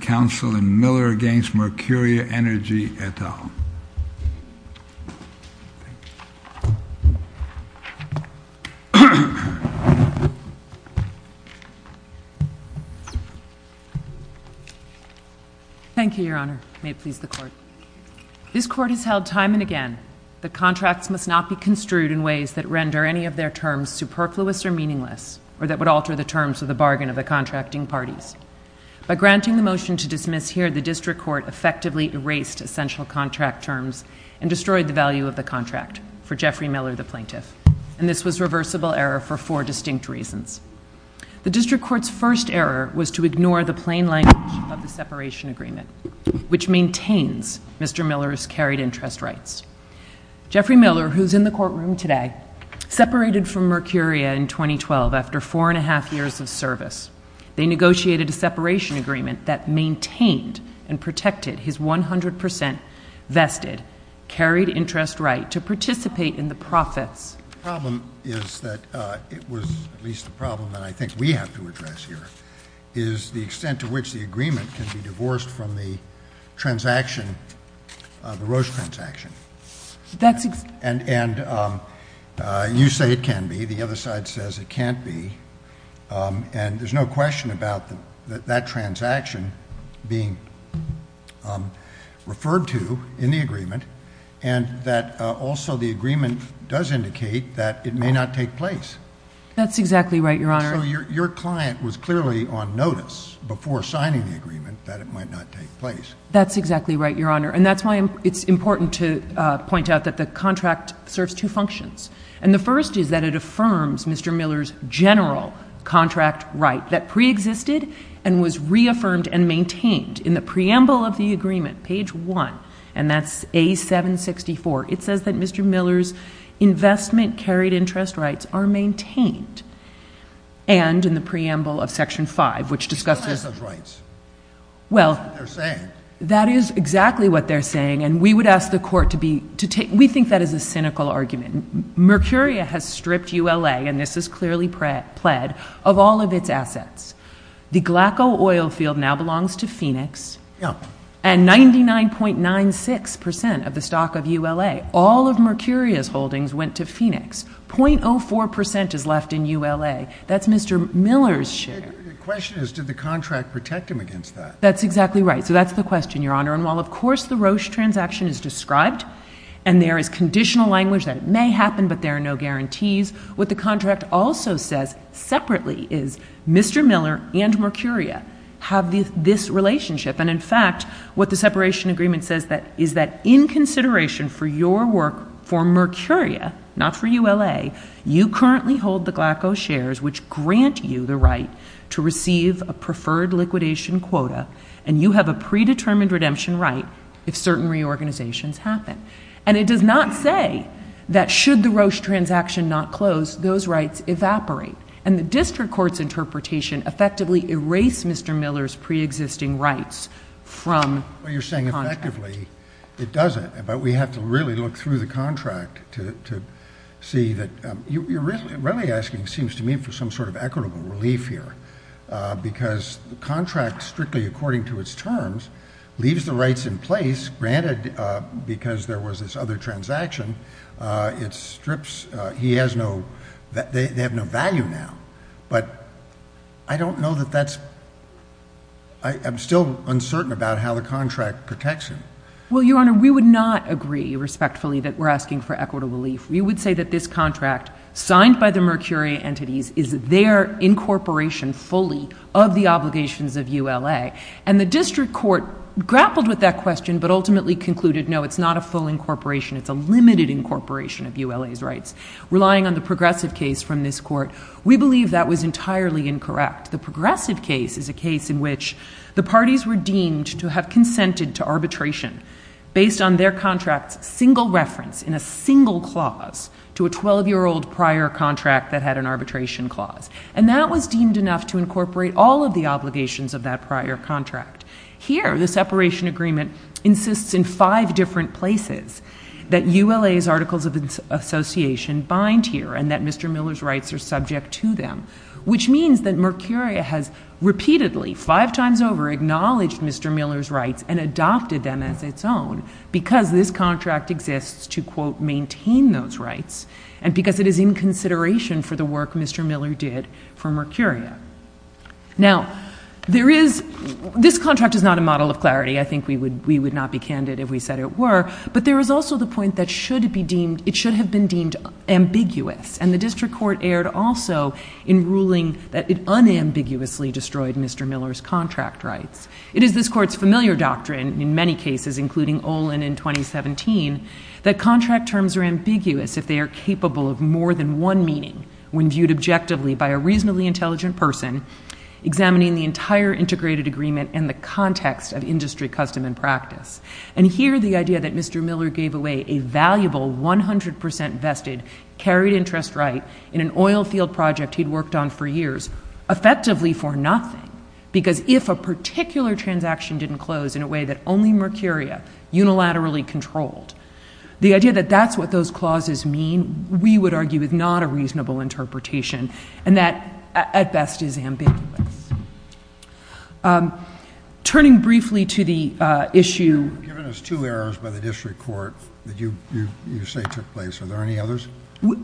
Council and Miller v. Mercuria Energy at all. Thank you, Your Honor. May it please the Court. This Court has held time and again that contracts must not be construed in ways that render any of their terms superfluous or meaningless or that would alter the terms of the bargain of the contracting parties. By granting the motion to dismiss here, the District Court effectively erased essential contract terms and destroyed the value of the contract for Jeffrey Miller, the plaintiff. And this was reversible error for four distinct reasons. The District Court's first error was to ignore the plain language of the separation agreement, which maintains Mr. Miller's carried interest rights. Jeffrey Miller, who is in the courtroom today, separated from Mercuria in 2012 after four and a half years of service. They negotiated a separation agreement that maintained and protected his 100 percent vested carried interest right to participate in the profits. The problem is that it was at least a problem that I think we have to address here, is the extent to which the agreement can be divorced from the transaction, the Roche transaction. That's — And you say it can be. The other side says it can't be. And there's no question about that transaction being referred to in the agreement and that also the agreement does indicate that it may not take place. That's exactly right, Your Honor. So your client was clearly on notice before signing the agreement that it might not take place. That's exactly right, Your Honor. And that's why it's important to point out that the contract serves two functions. And the first is that it affirms Mr. Miller's general contract right that preexisted and was reaffirmed and maintained in the preamble of the agreement, page 1, and that's A764. It says that Mr. Miller's investment carried interest rights are maintained and in the preamble of section 5, which discusses — He still has those rights. That's what they're saying. That is exactly what they're saying. And we would ask the court to be — we think that is a cynical argument. Mercuria has stripped ULA — and this is clearly pled — of all of its assets. The Glaco oil field now belongs to Phoenix. Yeah. And 99.96 percent of the stock of ULA, all of Mercuria's holdings, went to Phoenix. .04 percent is left in ULA. That's Mr. Miller's share. The question is, did the contract protect him against that? That's exactly right. So that's the question, Your Honor. And while, of course, the Roche transaction is described and there is conditional language that it may happen, but there are guarantees, what the contract also says separately is Mr. Miller and Mercuria have this relationship. And in fact, what the separation agreement says is that in consideration for your work for Mercuria, not for ULA, you currently hold the Glaco shares, which grant you the right to receive a preferred liquidation quota, and you have a predetermined redemption right if certain reorganizations happen. And it does not say that should the Roche transaction not close, those rights evaporate. And the district court's interpretation effectively erased Mr. Miller's preexisting rights from the contract. Well, you're saying effectively it doesn't, but we have to really look through the contract to see that — you're really asking, it seems to me, for some sort of equitable relief here, because the contract, strictly according to its terms, leaves the rights in place. Granted, because there was this other transaction, it strips — he has no — they have no value now. But I don't know that that's — I'm still uncertain about how the contract protects him. Well, Your Honor, we would not agree respectfully that we're asking for equitable relief. We would say that this contract, signed by the Mercuria entities, is their incorporation fully of the obligations of ULA. And the district court grappled with that question, but ultimately concluded, no, it's not a full incorporation. It's a limited incorporation of ULA's rights. Relying on the progressive case from this court, we believe that was entirely incorrect. The progressive case is a case in which the parties were deemed to have consented to arbitration based on their contract's single reference in a single clause to a 12-year-old prior contract that had an arbitration clause. And that was deemed enough to incorporate all of the obligations of that prior contract. Here, the separation agreement insists in five different places that ULA's articles of association bind here and that Mr. Miller's rights are subject to them, which means that Mercuria has repeatedly, five times over, acknowledged Mr. Miller's rights and adopted them as its own because this contract exists to, quote, maintain those rights and because it is in consideration for the work Mr. Miller did for Mercuria. Now, this contract is not a model of clarity. I think we would not be candid if we said it were. But there is also the point that should have been deemed ambiguous. And the district court erred also in ruling that it ambiguously destroyed Mr. Miller's contract rights. It is this court's familiar doctrine, in many cases, including Olin in 2017, that contract terms are ambiguous if they are capable of more than one meaning when viewed objectively by a reasonably intelligent person examining the entire integrated agreement and the context of industry custom and practice. And here, the idea that Mr. Miller gave away a valuable 100% vested carried interest right in an oil field project he had worked on for years, effectively for nothing, because if a particular transaction didn't close in a way that only Mercuria unilaterally controlled, the idea that that's what those clauses mean, we would argue, is not a reasonable interpretation and that, at best, is ambiguous. Turning briefly to the issue You've given us two errors by the district court that you say took place. Are there any others?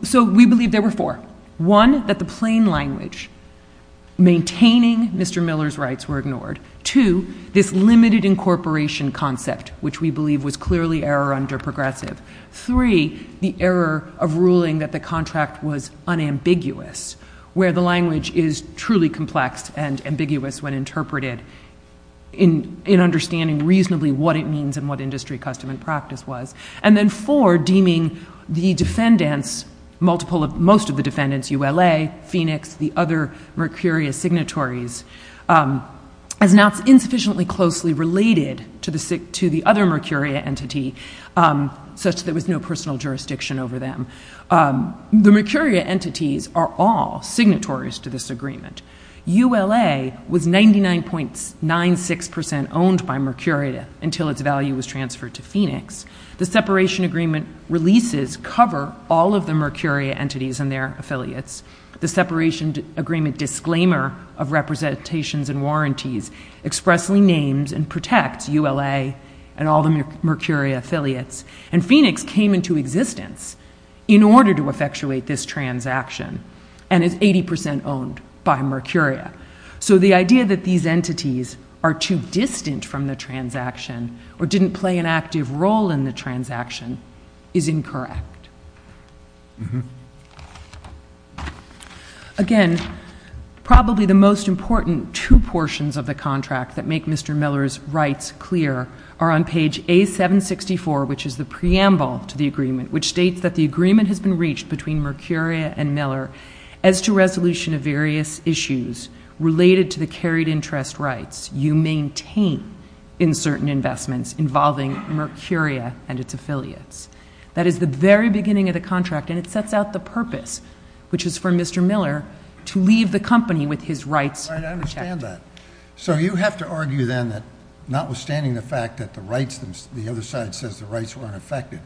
So we believe there were four. One, that the plain language maintaining Mr. Miller's rights were ignored. Two, this limited incorporation concept, which we believe was clearly error under progressive. Three, the error of ruling that the contract was unambiguous, where the language is truly complex and ambiguous when interpreted in understanding reasonably what it means and what industry custom and practice was. And then four, deeming the defendants, most of the defendants, ULA, Phoenix, the other Mercuria signatories, as not insufficiently closely related to the other Mercuria entity, such that there was no personal jurisdiction over them. The Mercuria entities are all signatories to this agreement. ULA was 99.96% owned by Mercuria until its value was transferred to Phoenix. The separation agreement releases cover all of the Mercuria entities and their affiliates. The separation agreement disclaimer of representations and warranties expressly names and protects ULA and all the Mercuria affiliates. And Phoenix came into existence in order to effectuate this transaction and is 80% owned by Mercuria. So the idea that these entities are too distant from the transaction or didn't play an active role in the transaction is incorrect. Again, probably the most important two portions of the contract that make Mr. Miller's rights clear are on page A764, which is the preamble to the agreement, which states that the agreement has been reached between Mercuria and Miller as to resolution of various issues related to the carried interest rights you maintain in certain investments involving Mercuria and its affiliates. That is the very beginning of the contract. And it sets out the purpose, which is for Mr. Miller to leave the company with his rights. I understand that. So you have to argue then that notwithstanding the fact that the rights, the other side says the rights weren't affected,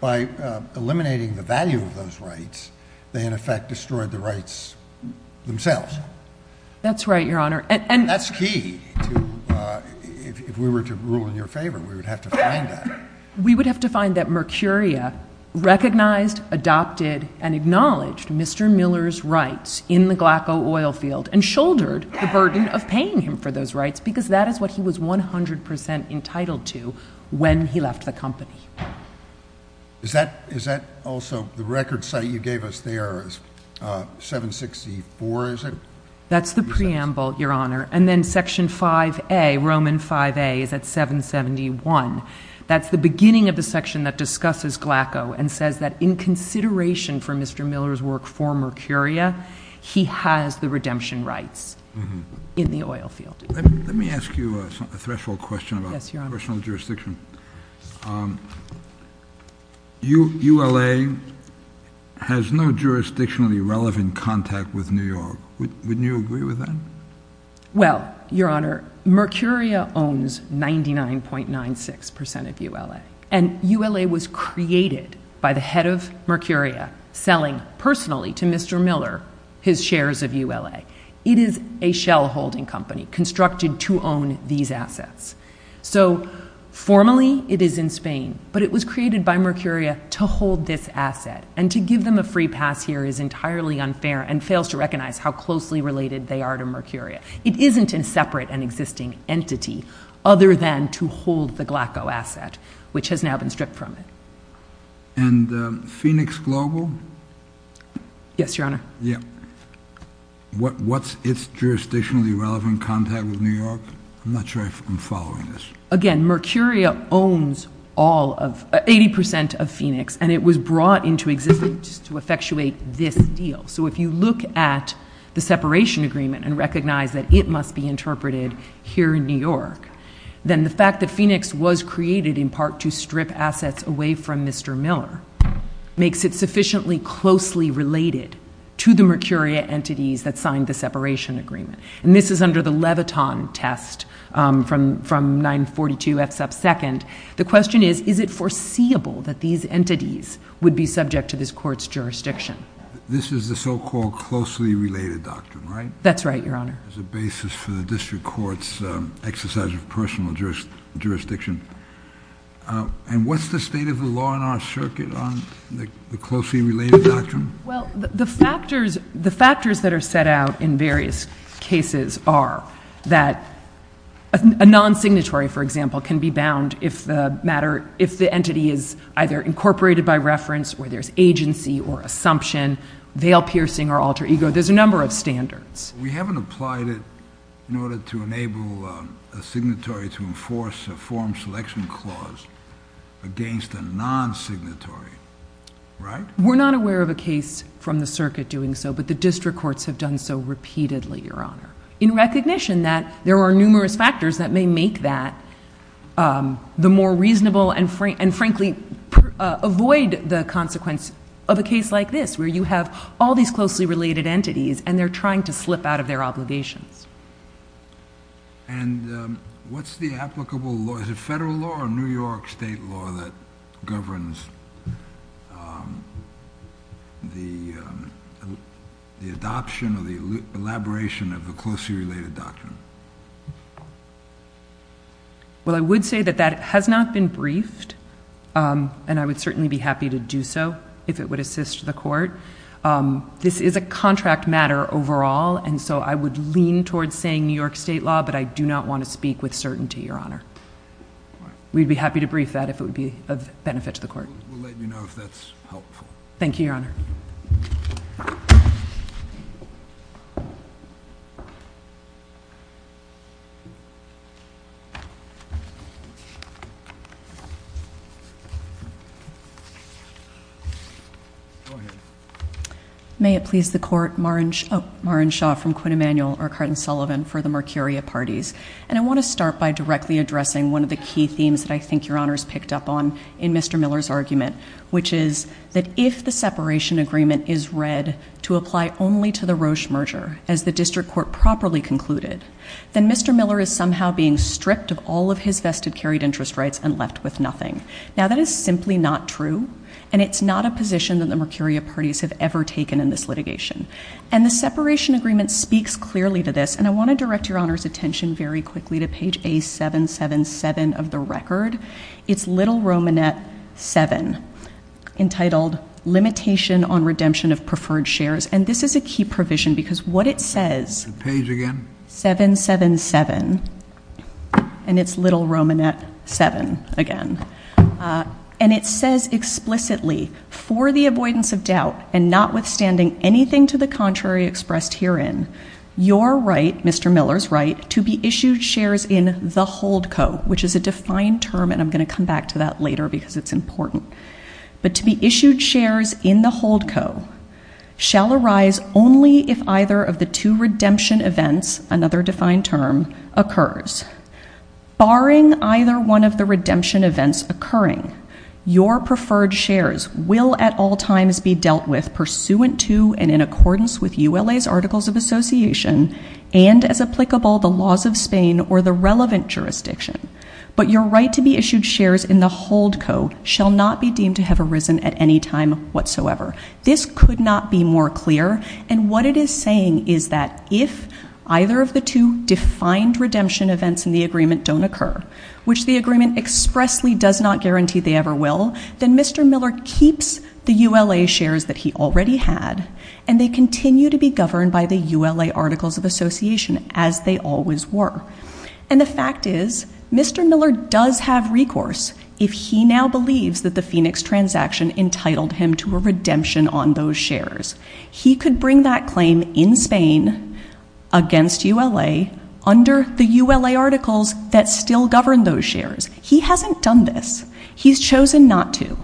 by eliminating the value of those rights, they in effect destroyed the rights themselves. That's right, Your Honor. That's key. If we were to rule in your favor, we would have to find that. We would have to find that Mercuria recognized, adopted, and acknowledged Mr. Miller's rights in the Glaco oil field and shouldered the burden of paying him for those rights, because that is what he was 100% entitled to when he left the company. Is that also the record site you gave us there is 764, is it? That's the preamble, Your Honor. And then section 5A, Roman 5A, is at 771. That's the beginning of the section that discusses Glaco and says that in consideration for Mr. Miller's work for Mercuria, he has the redemption rights in the oil field. Let me ask you a threshold question about personal jurisdiction. ULA has no jurisdictionally relevant contact with New York. Wouldn't you agree with that? Well, Your Honor, Mercuria owns 99.96% of ULA. And ULA was created by the head of Mercuria selling personally to Mr. Miller his shares of ULA. It is a shell holding company constructed to own these assets. So formally, it is in Spain, but it was created by Mercuria to hold this asset. And to give them a free pass here is entirely unfair and fails to recognize how closely related they are to Mercuria. It isn't in separate and existing entity other than to hold the Glaco asset, which has now been stripped from it. And Phoenix Global? Yes, Your Honor. What's its jurisdictionally relevant contact with New York? I'm not sure if I'm following this. Again, Mercuria owns 80% of Phoenix, and it was brought into existence to effectuate this deal. So if you look at the separation agreement and recognize that it must be interpreted here in New York, then the fact that Phoenix was created in part to strip assets away from Mr. Miller makes it sufficiently closely related to the Mercuria entities that signed the separation agreement. And this is under the Leviton test from 942 F sub second. The question is, is it foreseeable that these entities would be subject to this court's jurisdiction? This is the so-called closely related doctrine, right? That's right, Your Honor. As a basis for the district court's exercise of personal jurisdiction. And what's the state of the law in our circuit on the closely related doctrine? Well, the factors that are set out in various cases are that a non-signatory, for example, can be bound if the entity is either incorporated by reference or there's agency or assumption, veil-piercing or alter ego. There's a number of standards. We haven't applied it in order to enable a signatory to enforce a form selection clause against a non-signatory, right? We're not aware of a case from the circuit doing so, but the district courts have done so repeatedly, Your Honor. In recognition that there are numerous factors that may make that the more reasonable and frankly avoid the consequence of a case like this, where you have all these closely related entities and they're trying to slip out of their obligations. And what's the applicable law? Is it federal law or New York state law that governs the adoption or the elaboration of the closely related doctrine? Well, I would say that that has not been briefed, and I would certainly be happy to do so if it assists the court. This is a contract matter overall, and so I would lean towards saying New York state law, but I do not want to speak with certainty, Your Honor. We'd be happy to brief that if it would be of benefit to the court. We'll let you know if that's helpful. Thank you, Your Honor. Go ahead. May it please the court, Maren Shaw from Quinn Emanuel for the Mercuria Parties. And I want to start by directly addressing one of the key themes that I think Your Honor's picked up on in Mr. Miller's argument, which is that if the separation agreement is read to apply only to the Roche merger, as the district court properly concluded, then Mr. Miller is somehow being stripped of all of his vested, carried interest rights and left with nothing. Now, that is simply not true, and it's not a position that the Mercuria Parties have ever taken in this litigation. And the separation agreement speaks clearly to this, and I want to direct Your Honor's attention very quickly to page A777 of the record. It's little Romanette 7, entitled Limitation on Redemption of Preferred Shares. And this is a key provision, because what it says- Page again? 777, and it's little Romanette 7 again. And it says explicitly, for the avoidance of doubt and notwithstanding anything to the contrary expressed herein, your right, Mr. Miller's right, to be issued shares in the hold co, which is a defined term, and I'm going to come back to that redemption events, another defined term, occurs. Barring either one of the redemption events occurring, your preferred shares will at all times be dealt with pursuant to and in accordance with ULA's articles of association and, as applicable, the laws of Spain or the relevant jurisdiction. But your right to be issued shares in the hold co shall not be deemed to have arisen at any time whatsoever. This could not be more clear, and what it is saying is that if either of the two defined redemption events in the agreement don't occur, which the agreement expressly does not guarantee they ever will, then Mr. Miller keeps the ULA shares that he already had, and they continue to be governed by the ULA articles of association as they always were. And the fact is, Mr. Miller does have recourse if he now believes that the Phoenix transaction entitled him to a redemption on those shares. He could bring that claim in Spain against ULA under the ULA articles that still govern those shares. He hasn't done this. He's chosen not to.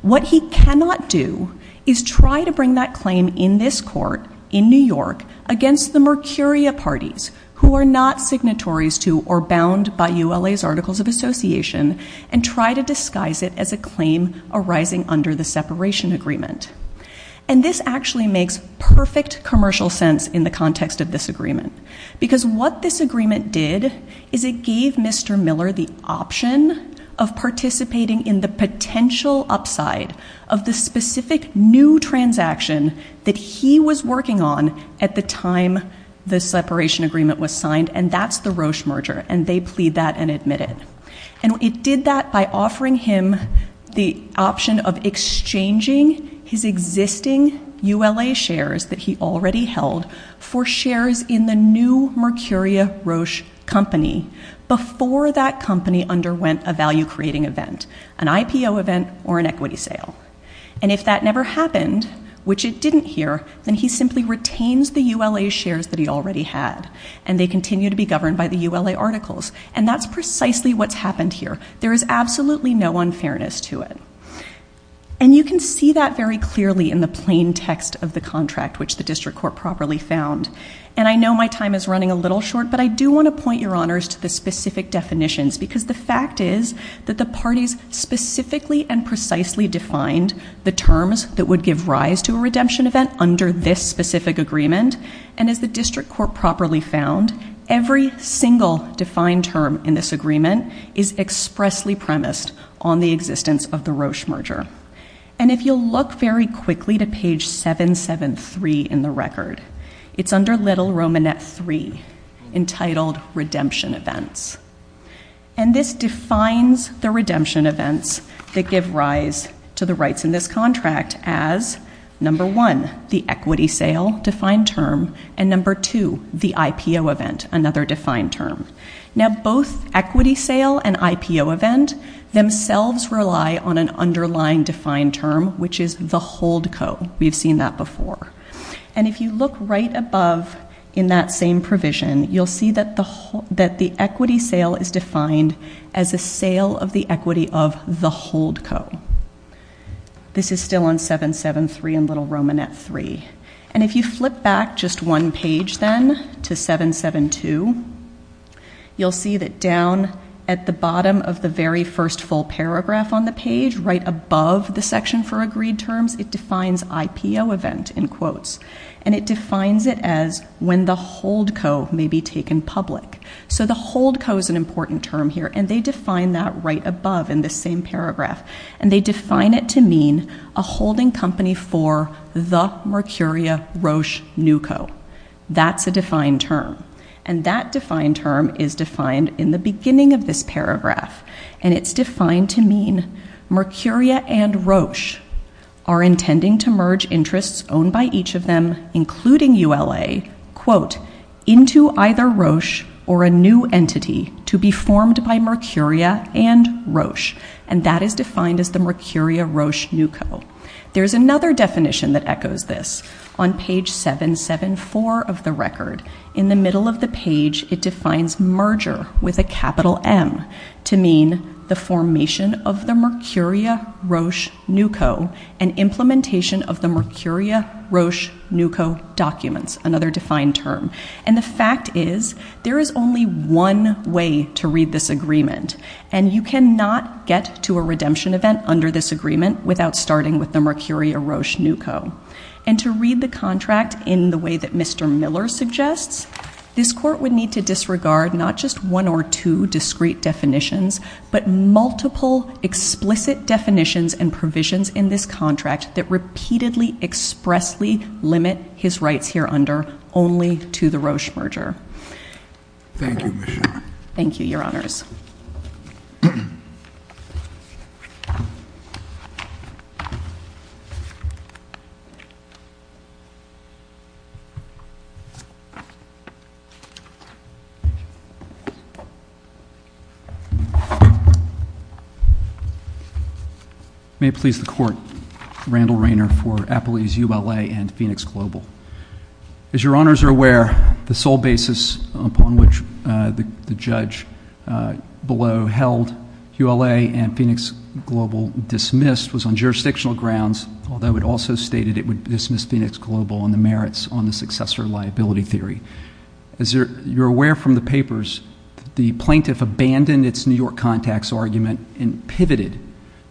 What he cannot do is try to bring that claim in this court, in New York, against the Mercuria parties, who are not signatories to or bound by ULA's articles of association, and try to disguise it as a claim arising under the separation agreement. And this actually makes perfect commercial sense in the context of this agreement, because what this agreement did is it gave Mr. Miller the option of participating in the potential upside of the specific new transaction that he was working on at the time the separation agreement was signed, and that's the Roche merger, and they offered him the option of exchanging his existing ULA shares that he already held for shares in the new Mercuria Roche company before that company underwent a value-creating event, an IPO event or an equity sale. And if that never happened, which it didn't here, then he simply retains the ULA shares that he already had, and they continue to be governed by the ULA articles. And that's precisely what's happened here. There is absolutely no unfairness to it. And you can see that very clearly in the plain text of the contract, which the district court properly found. And I know my time is running a little short, but I do want to point your honors to the specific definitions, because the fact is that the parties specifically and precisely defined the terms that would give rise to a redemption event under this specific agreement, and as the district court properly found, every single defined term in this agreement is expressly premised on the existence of the Roche merger. And if you'll look very quickly to page 773 in the record, it's under little romanette three, entitled redemption events. And this defines the redemption events that give rise to the rights in this contract as number one, the equity sale defined term, and number two, the IPO event, another defined term. Now, both equity sale and IPO event themselves rely on an underlying defined term, which is the holdco. We've seen that before. And if you look right above in that same provision, you'll see that the equity sale is defined as a sale of the equity of the holdco. This is still on 773 and little romanette three. And if you flip back just one page then to 772, you'll see that down at the bottom of the very first full paragraph on the page, right above the section for agreed terms, it defines IPO event in quotes. And it defines it as when the holdco may be taken public. So the holdco is an important term here, and they define that right above in this same paragraph. And they define it to mean a holding company for the Mercuria Roche Nuco. That's a defined term. And that defined term is defined in the beginning of this paragraph. And it's defined to mean Mercuria and Roche are intending to merge interests owned by each of them, including ULA, quote, into either Roche or a new entity to be formed by Mercuria and Roche. And that is defined as the Mercuria Roche Nuco. There's another definition that echoes this. On page 774 of the record, in the middle of the page, it defines merger with a capital M to mean the formation of the Mercuria Roche Nuco and implementation of the Mercuria Roche Nuco documents, another defined term. And the fact is there is only one way to read this agreement. And you cannot get to a redemption event under this agreement without starting with the Mercuria Roche Nuco. And to read the contract in the way that Mr. Miller suggests, this court would need to disregard not just one or two discrete definitions, but multiple explicit definitions and provisions in this contract that repeatedly expressly limit his rights here under only to the Roche merger. Thank you. Thank you, Your Honors. May it please the Court, Randall Rayner for Appley's ULA and Phoenix Global. As Your Honors are aware, the sole basis upon which the judge below held ULA and Phoenix Global dismissed was on jurisdictional grounds, although it also stated it would dismiss Phoenix Global on the merits on the successor liability theory. As you're aware from the papers, the plaintiff abandoned its New York Contacts argument and pivoted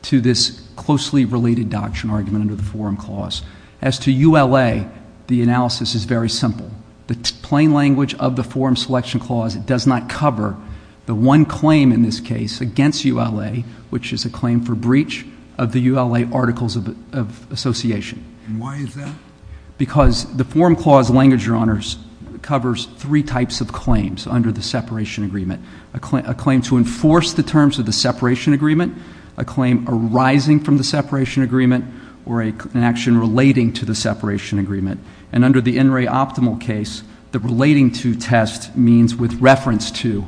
to this closely related doctrine argument under the Forum Clause. As to ULA, the analysis is very simple. The plain language of the Forum Selection Clause does not cover the one claim in this case against ULA, which is a claim for breach of the ULA Articles of Association. And why is that? Because the Forum Clause language, Your Honors, covers three types of claims under the separation agreement. A claim to enforce the terms of the separation agreement, a claim arising from the separation agreement, or an action relating to the separation agreement. And under the In Re Optimal case, the relating to test means with reference to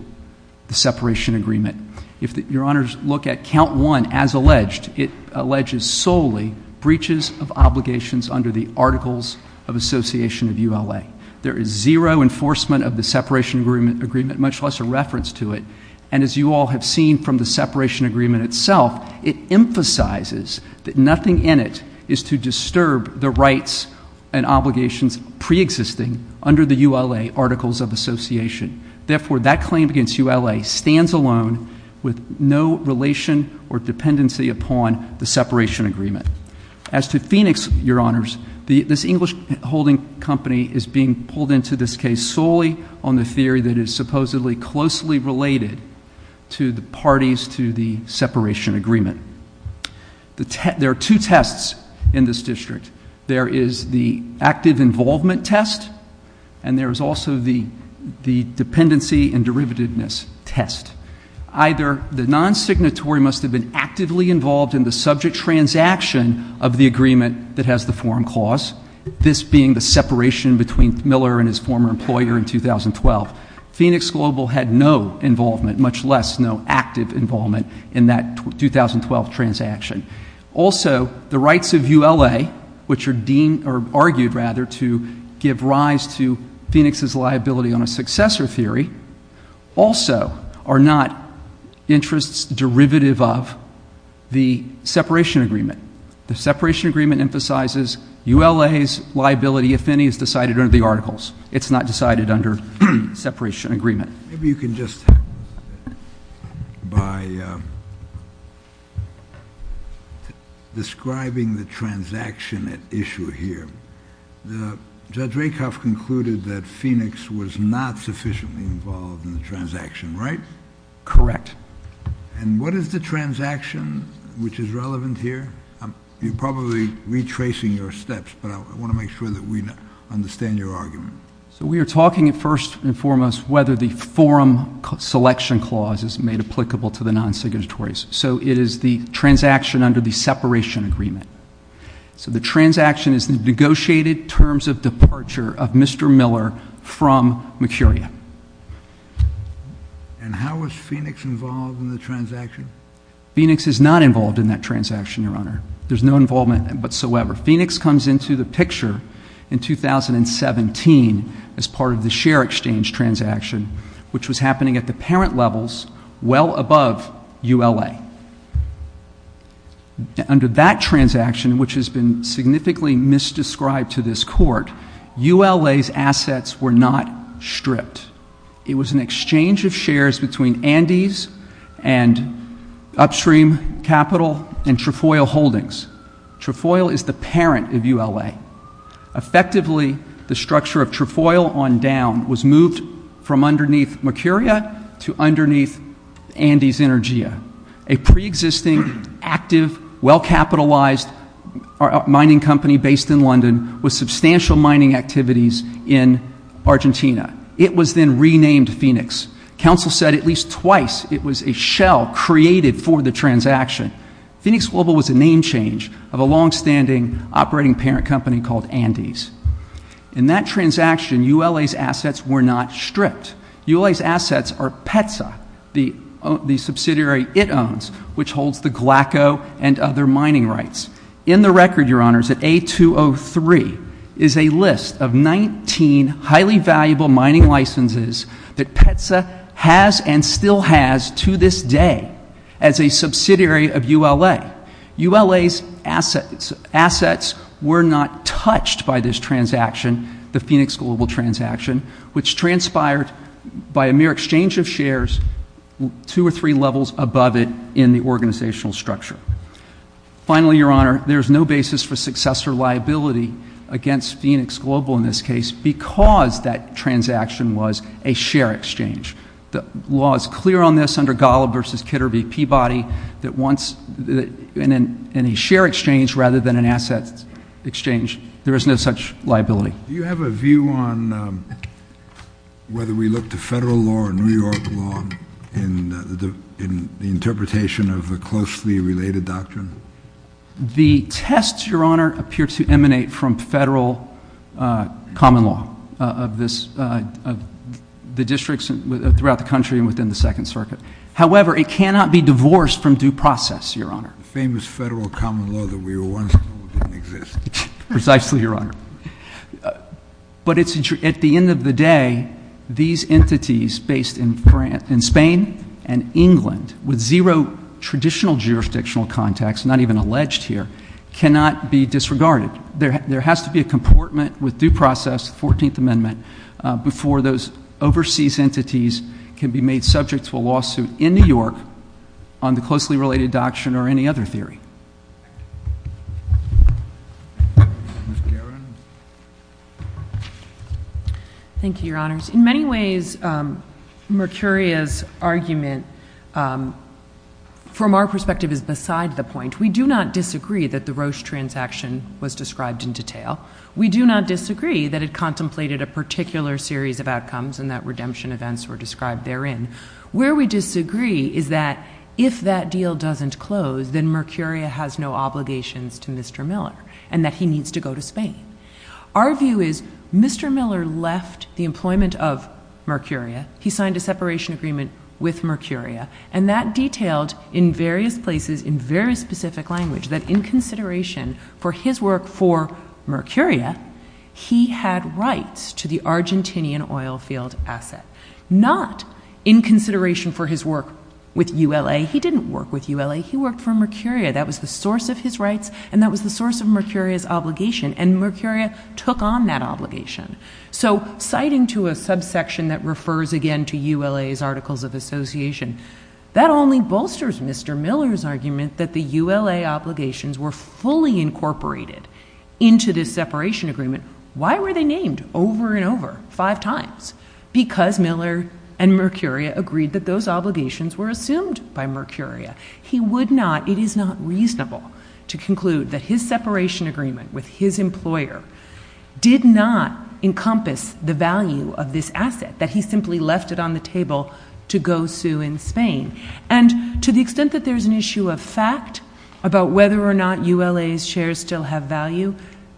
the separation agreement. If Your Honors look at Count 1 as alleged, it alleges solely breaches of obligations under the Articles of Association of ULA. There is zero enforcement of the separation agreement, much less a reference to it. And as you all have seen from the separation agreement itself, it emphasizes that nothing in it is to disturb the rights and obligations preexisting under the ULA Articles of Association. Therefore, that claim against ULA stands alone with no relation or dependency upon the separation agreement. As to Phoenix, Your Honors, this English holding company is being pulled into this case solely on the theory that it is supposedly closely related to the parties to the separation agreement. There are two tests in this district. There is the dependency and derivativeness test. Either the non-signatory must have been actively involved in the subject transaction of the agreement that has the forum clause, this being the separation between Miller and his former employer in 2012. Phoenix Global had no involvement, much less no active involvement, in that 2012 transaction. Also, the rights of ULA, which are argued to give rise to Phoenix's liability on a successor theory, also are not interests derivative of the separation agreement. The separation agreement emphasizes ULA's liability, if any, is decided under the Articles. It's not decided under the separation agreement. Maybe you can just, by describing the transaction at issue here, Judge Rakoff concluded that Phoenix was not sufficiently involved in the transaction, right? Correct. And what is the transaction, which is relevant here? You're probably retracing your steps, but I want to make sure that we forum selection clause is made applicable to the non-signatories. So it is the transaction under the separation agreement. So the transaction is the negotiated terms of departure of Mr. Miller from Mercuria. And how was Phoenix involved in the transaction? Phoenix is not involved in that transaction, Your Honor. There's no involvement in it whatsoever. Phoenix comes into the picture in 2017 as part of the share exchange transaction, which was happening at the parent levels, well above ULA. Under that transaction, which has been significantly misdescribed to this Court, ULA's assets were not stripped. It was an exchange of shares between Andes and upstream capital and Trefoil Holdings. Trefoil is the parent of ULA. Effectively, the structure of Trefoil on down was moved from underneath Mercuria to underneath Andes Energia, a pre-existing, active, well-capitalized mining company based in London with substantial mining activities in Argentina. It was then renamed Phoenix. Counsel said at least twice it was a shell created for the transaction. Phoenix Global was a name change of a longstanding operating parent company called Andes. In that transaction, ULA's assets were not stripped. ULA's assets are PETSA, the subsidiary it owns, which holds the GLACO and other mining rights. In the record, Your Honors, at A203 is a list of 19 highly valuable mining licenses that PETSA has and still has to this day as a subsidiary of ULA. ULA's assets were not touched by this transaction, the Phoenix Global transaction, which transpired by a mere exchange of shares two or three levels above it in the organizational structure. Finally, Your Honor, there is no basis for successor liability against Phoenix Global in this case because that transaction was a share exchange. The law is clear on this under Golub v. Kidder v. Peabody that in a share exchange rather than an asset exchange, there is no such liability. Do you have a view on whether we look to federal law or New York law in the interpretation of a closely related doctrine? The tests, Your Honor, appear to emanate from federal common law of the districts throughout the country and within the Second Circuit. However, it cannot be divorced from due process, Your Honor. The famous federal common law that we were once told didn't exist. Precisely, Your Honor. But at the end of the day, these entities based in Spain and England with zero traditional jurisdictional contacts, not even alleged here, cannot be disregarded. There has to be a comportment with due process, 14th Amendment, before those overseas entities can be made subject to a lawsuit in New York on the closely related doctrine or any other theory. Ms. Guerin. Thank you, Your Honors. In many ways, Mercuria's argument from our perspective is beside the point. We do not disagree that the Roche transaction was described in detail. We do not disagree that it contemplated a particular series of outcomes and that redemption events were described therein. Where we disagree is that if that deal doesn't close, then Mercuria has no obligations to Mr. Miller and that he needs to go to Spain. Our view is Mr. Miller left the employment of Mercuria. He signed a separation agreement with Mercuria and that detailed in various places, in very specific language, that in consideration for his work for Mercuria, he had rights to the Argentinian oil field asset. Not in consideration for his work with ULA. He didn't work with ULA. He worked for Mercuria. That was the source of his rights and that was the source of Mercuria's obligation and Mercuria took on that obligation. So citing to a subsection that refers again to ULA's articles of association, that only bolsters Mr. Miller's argument that the ULA obligations were fully incorporated into this separation agreement. Why were they named over and over five times? Because Miller and Mercuria agreed that those obligations were assumed by Mercuria. He would not, it is not reasonable to conclude that his separation agreement with his employer did not encompass the value of this asset. That he simply left it on the table to go sue in Spain. And to the extent that there's an issue of fact about whether or not ULA's shares still have value,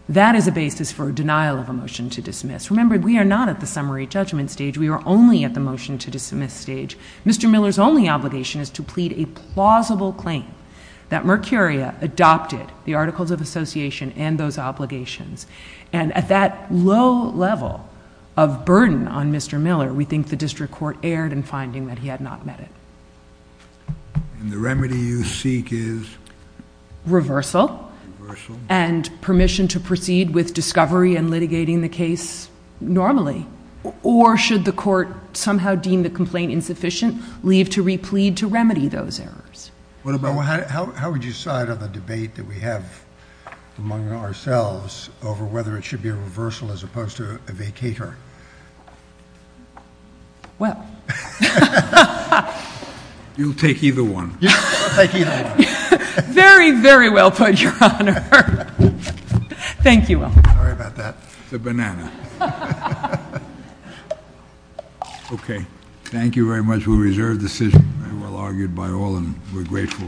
that is a basis for a denial of a motion to dismiss. Remember, we are not at the summary judgment stage. We are only at the motion to dismiss stage. Mr. Miller's only obligation is to plead a plausible claim that Mercuria adopted the articles of association and those obligations. And at that low level of burden on Mr. Miller, we think the district court erred in finding that he had not met it. And the remedy you seek is? Reversal. Reversal. And permission to proceed with discovery and litigating the case normally. Or should the court somehow deem the complaint insufficient, leave to replead to remedy those errors? How would you side on the debate that we have among ourselves over whether it should be a reversal as opposed to a vacater? Well. You'll take either one. Very, very well put, your honor. Thank you. Sorry about that. It's a banana. Okay. Thank you very much. We reserve the decision, well argued by all, and we're grateful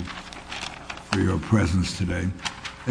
for your presence today.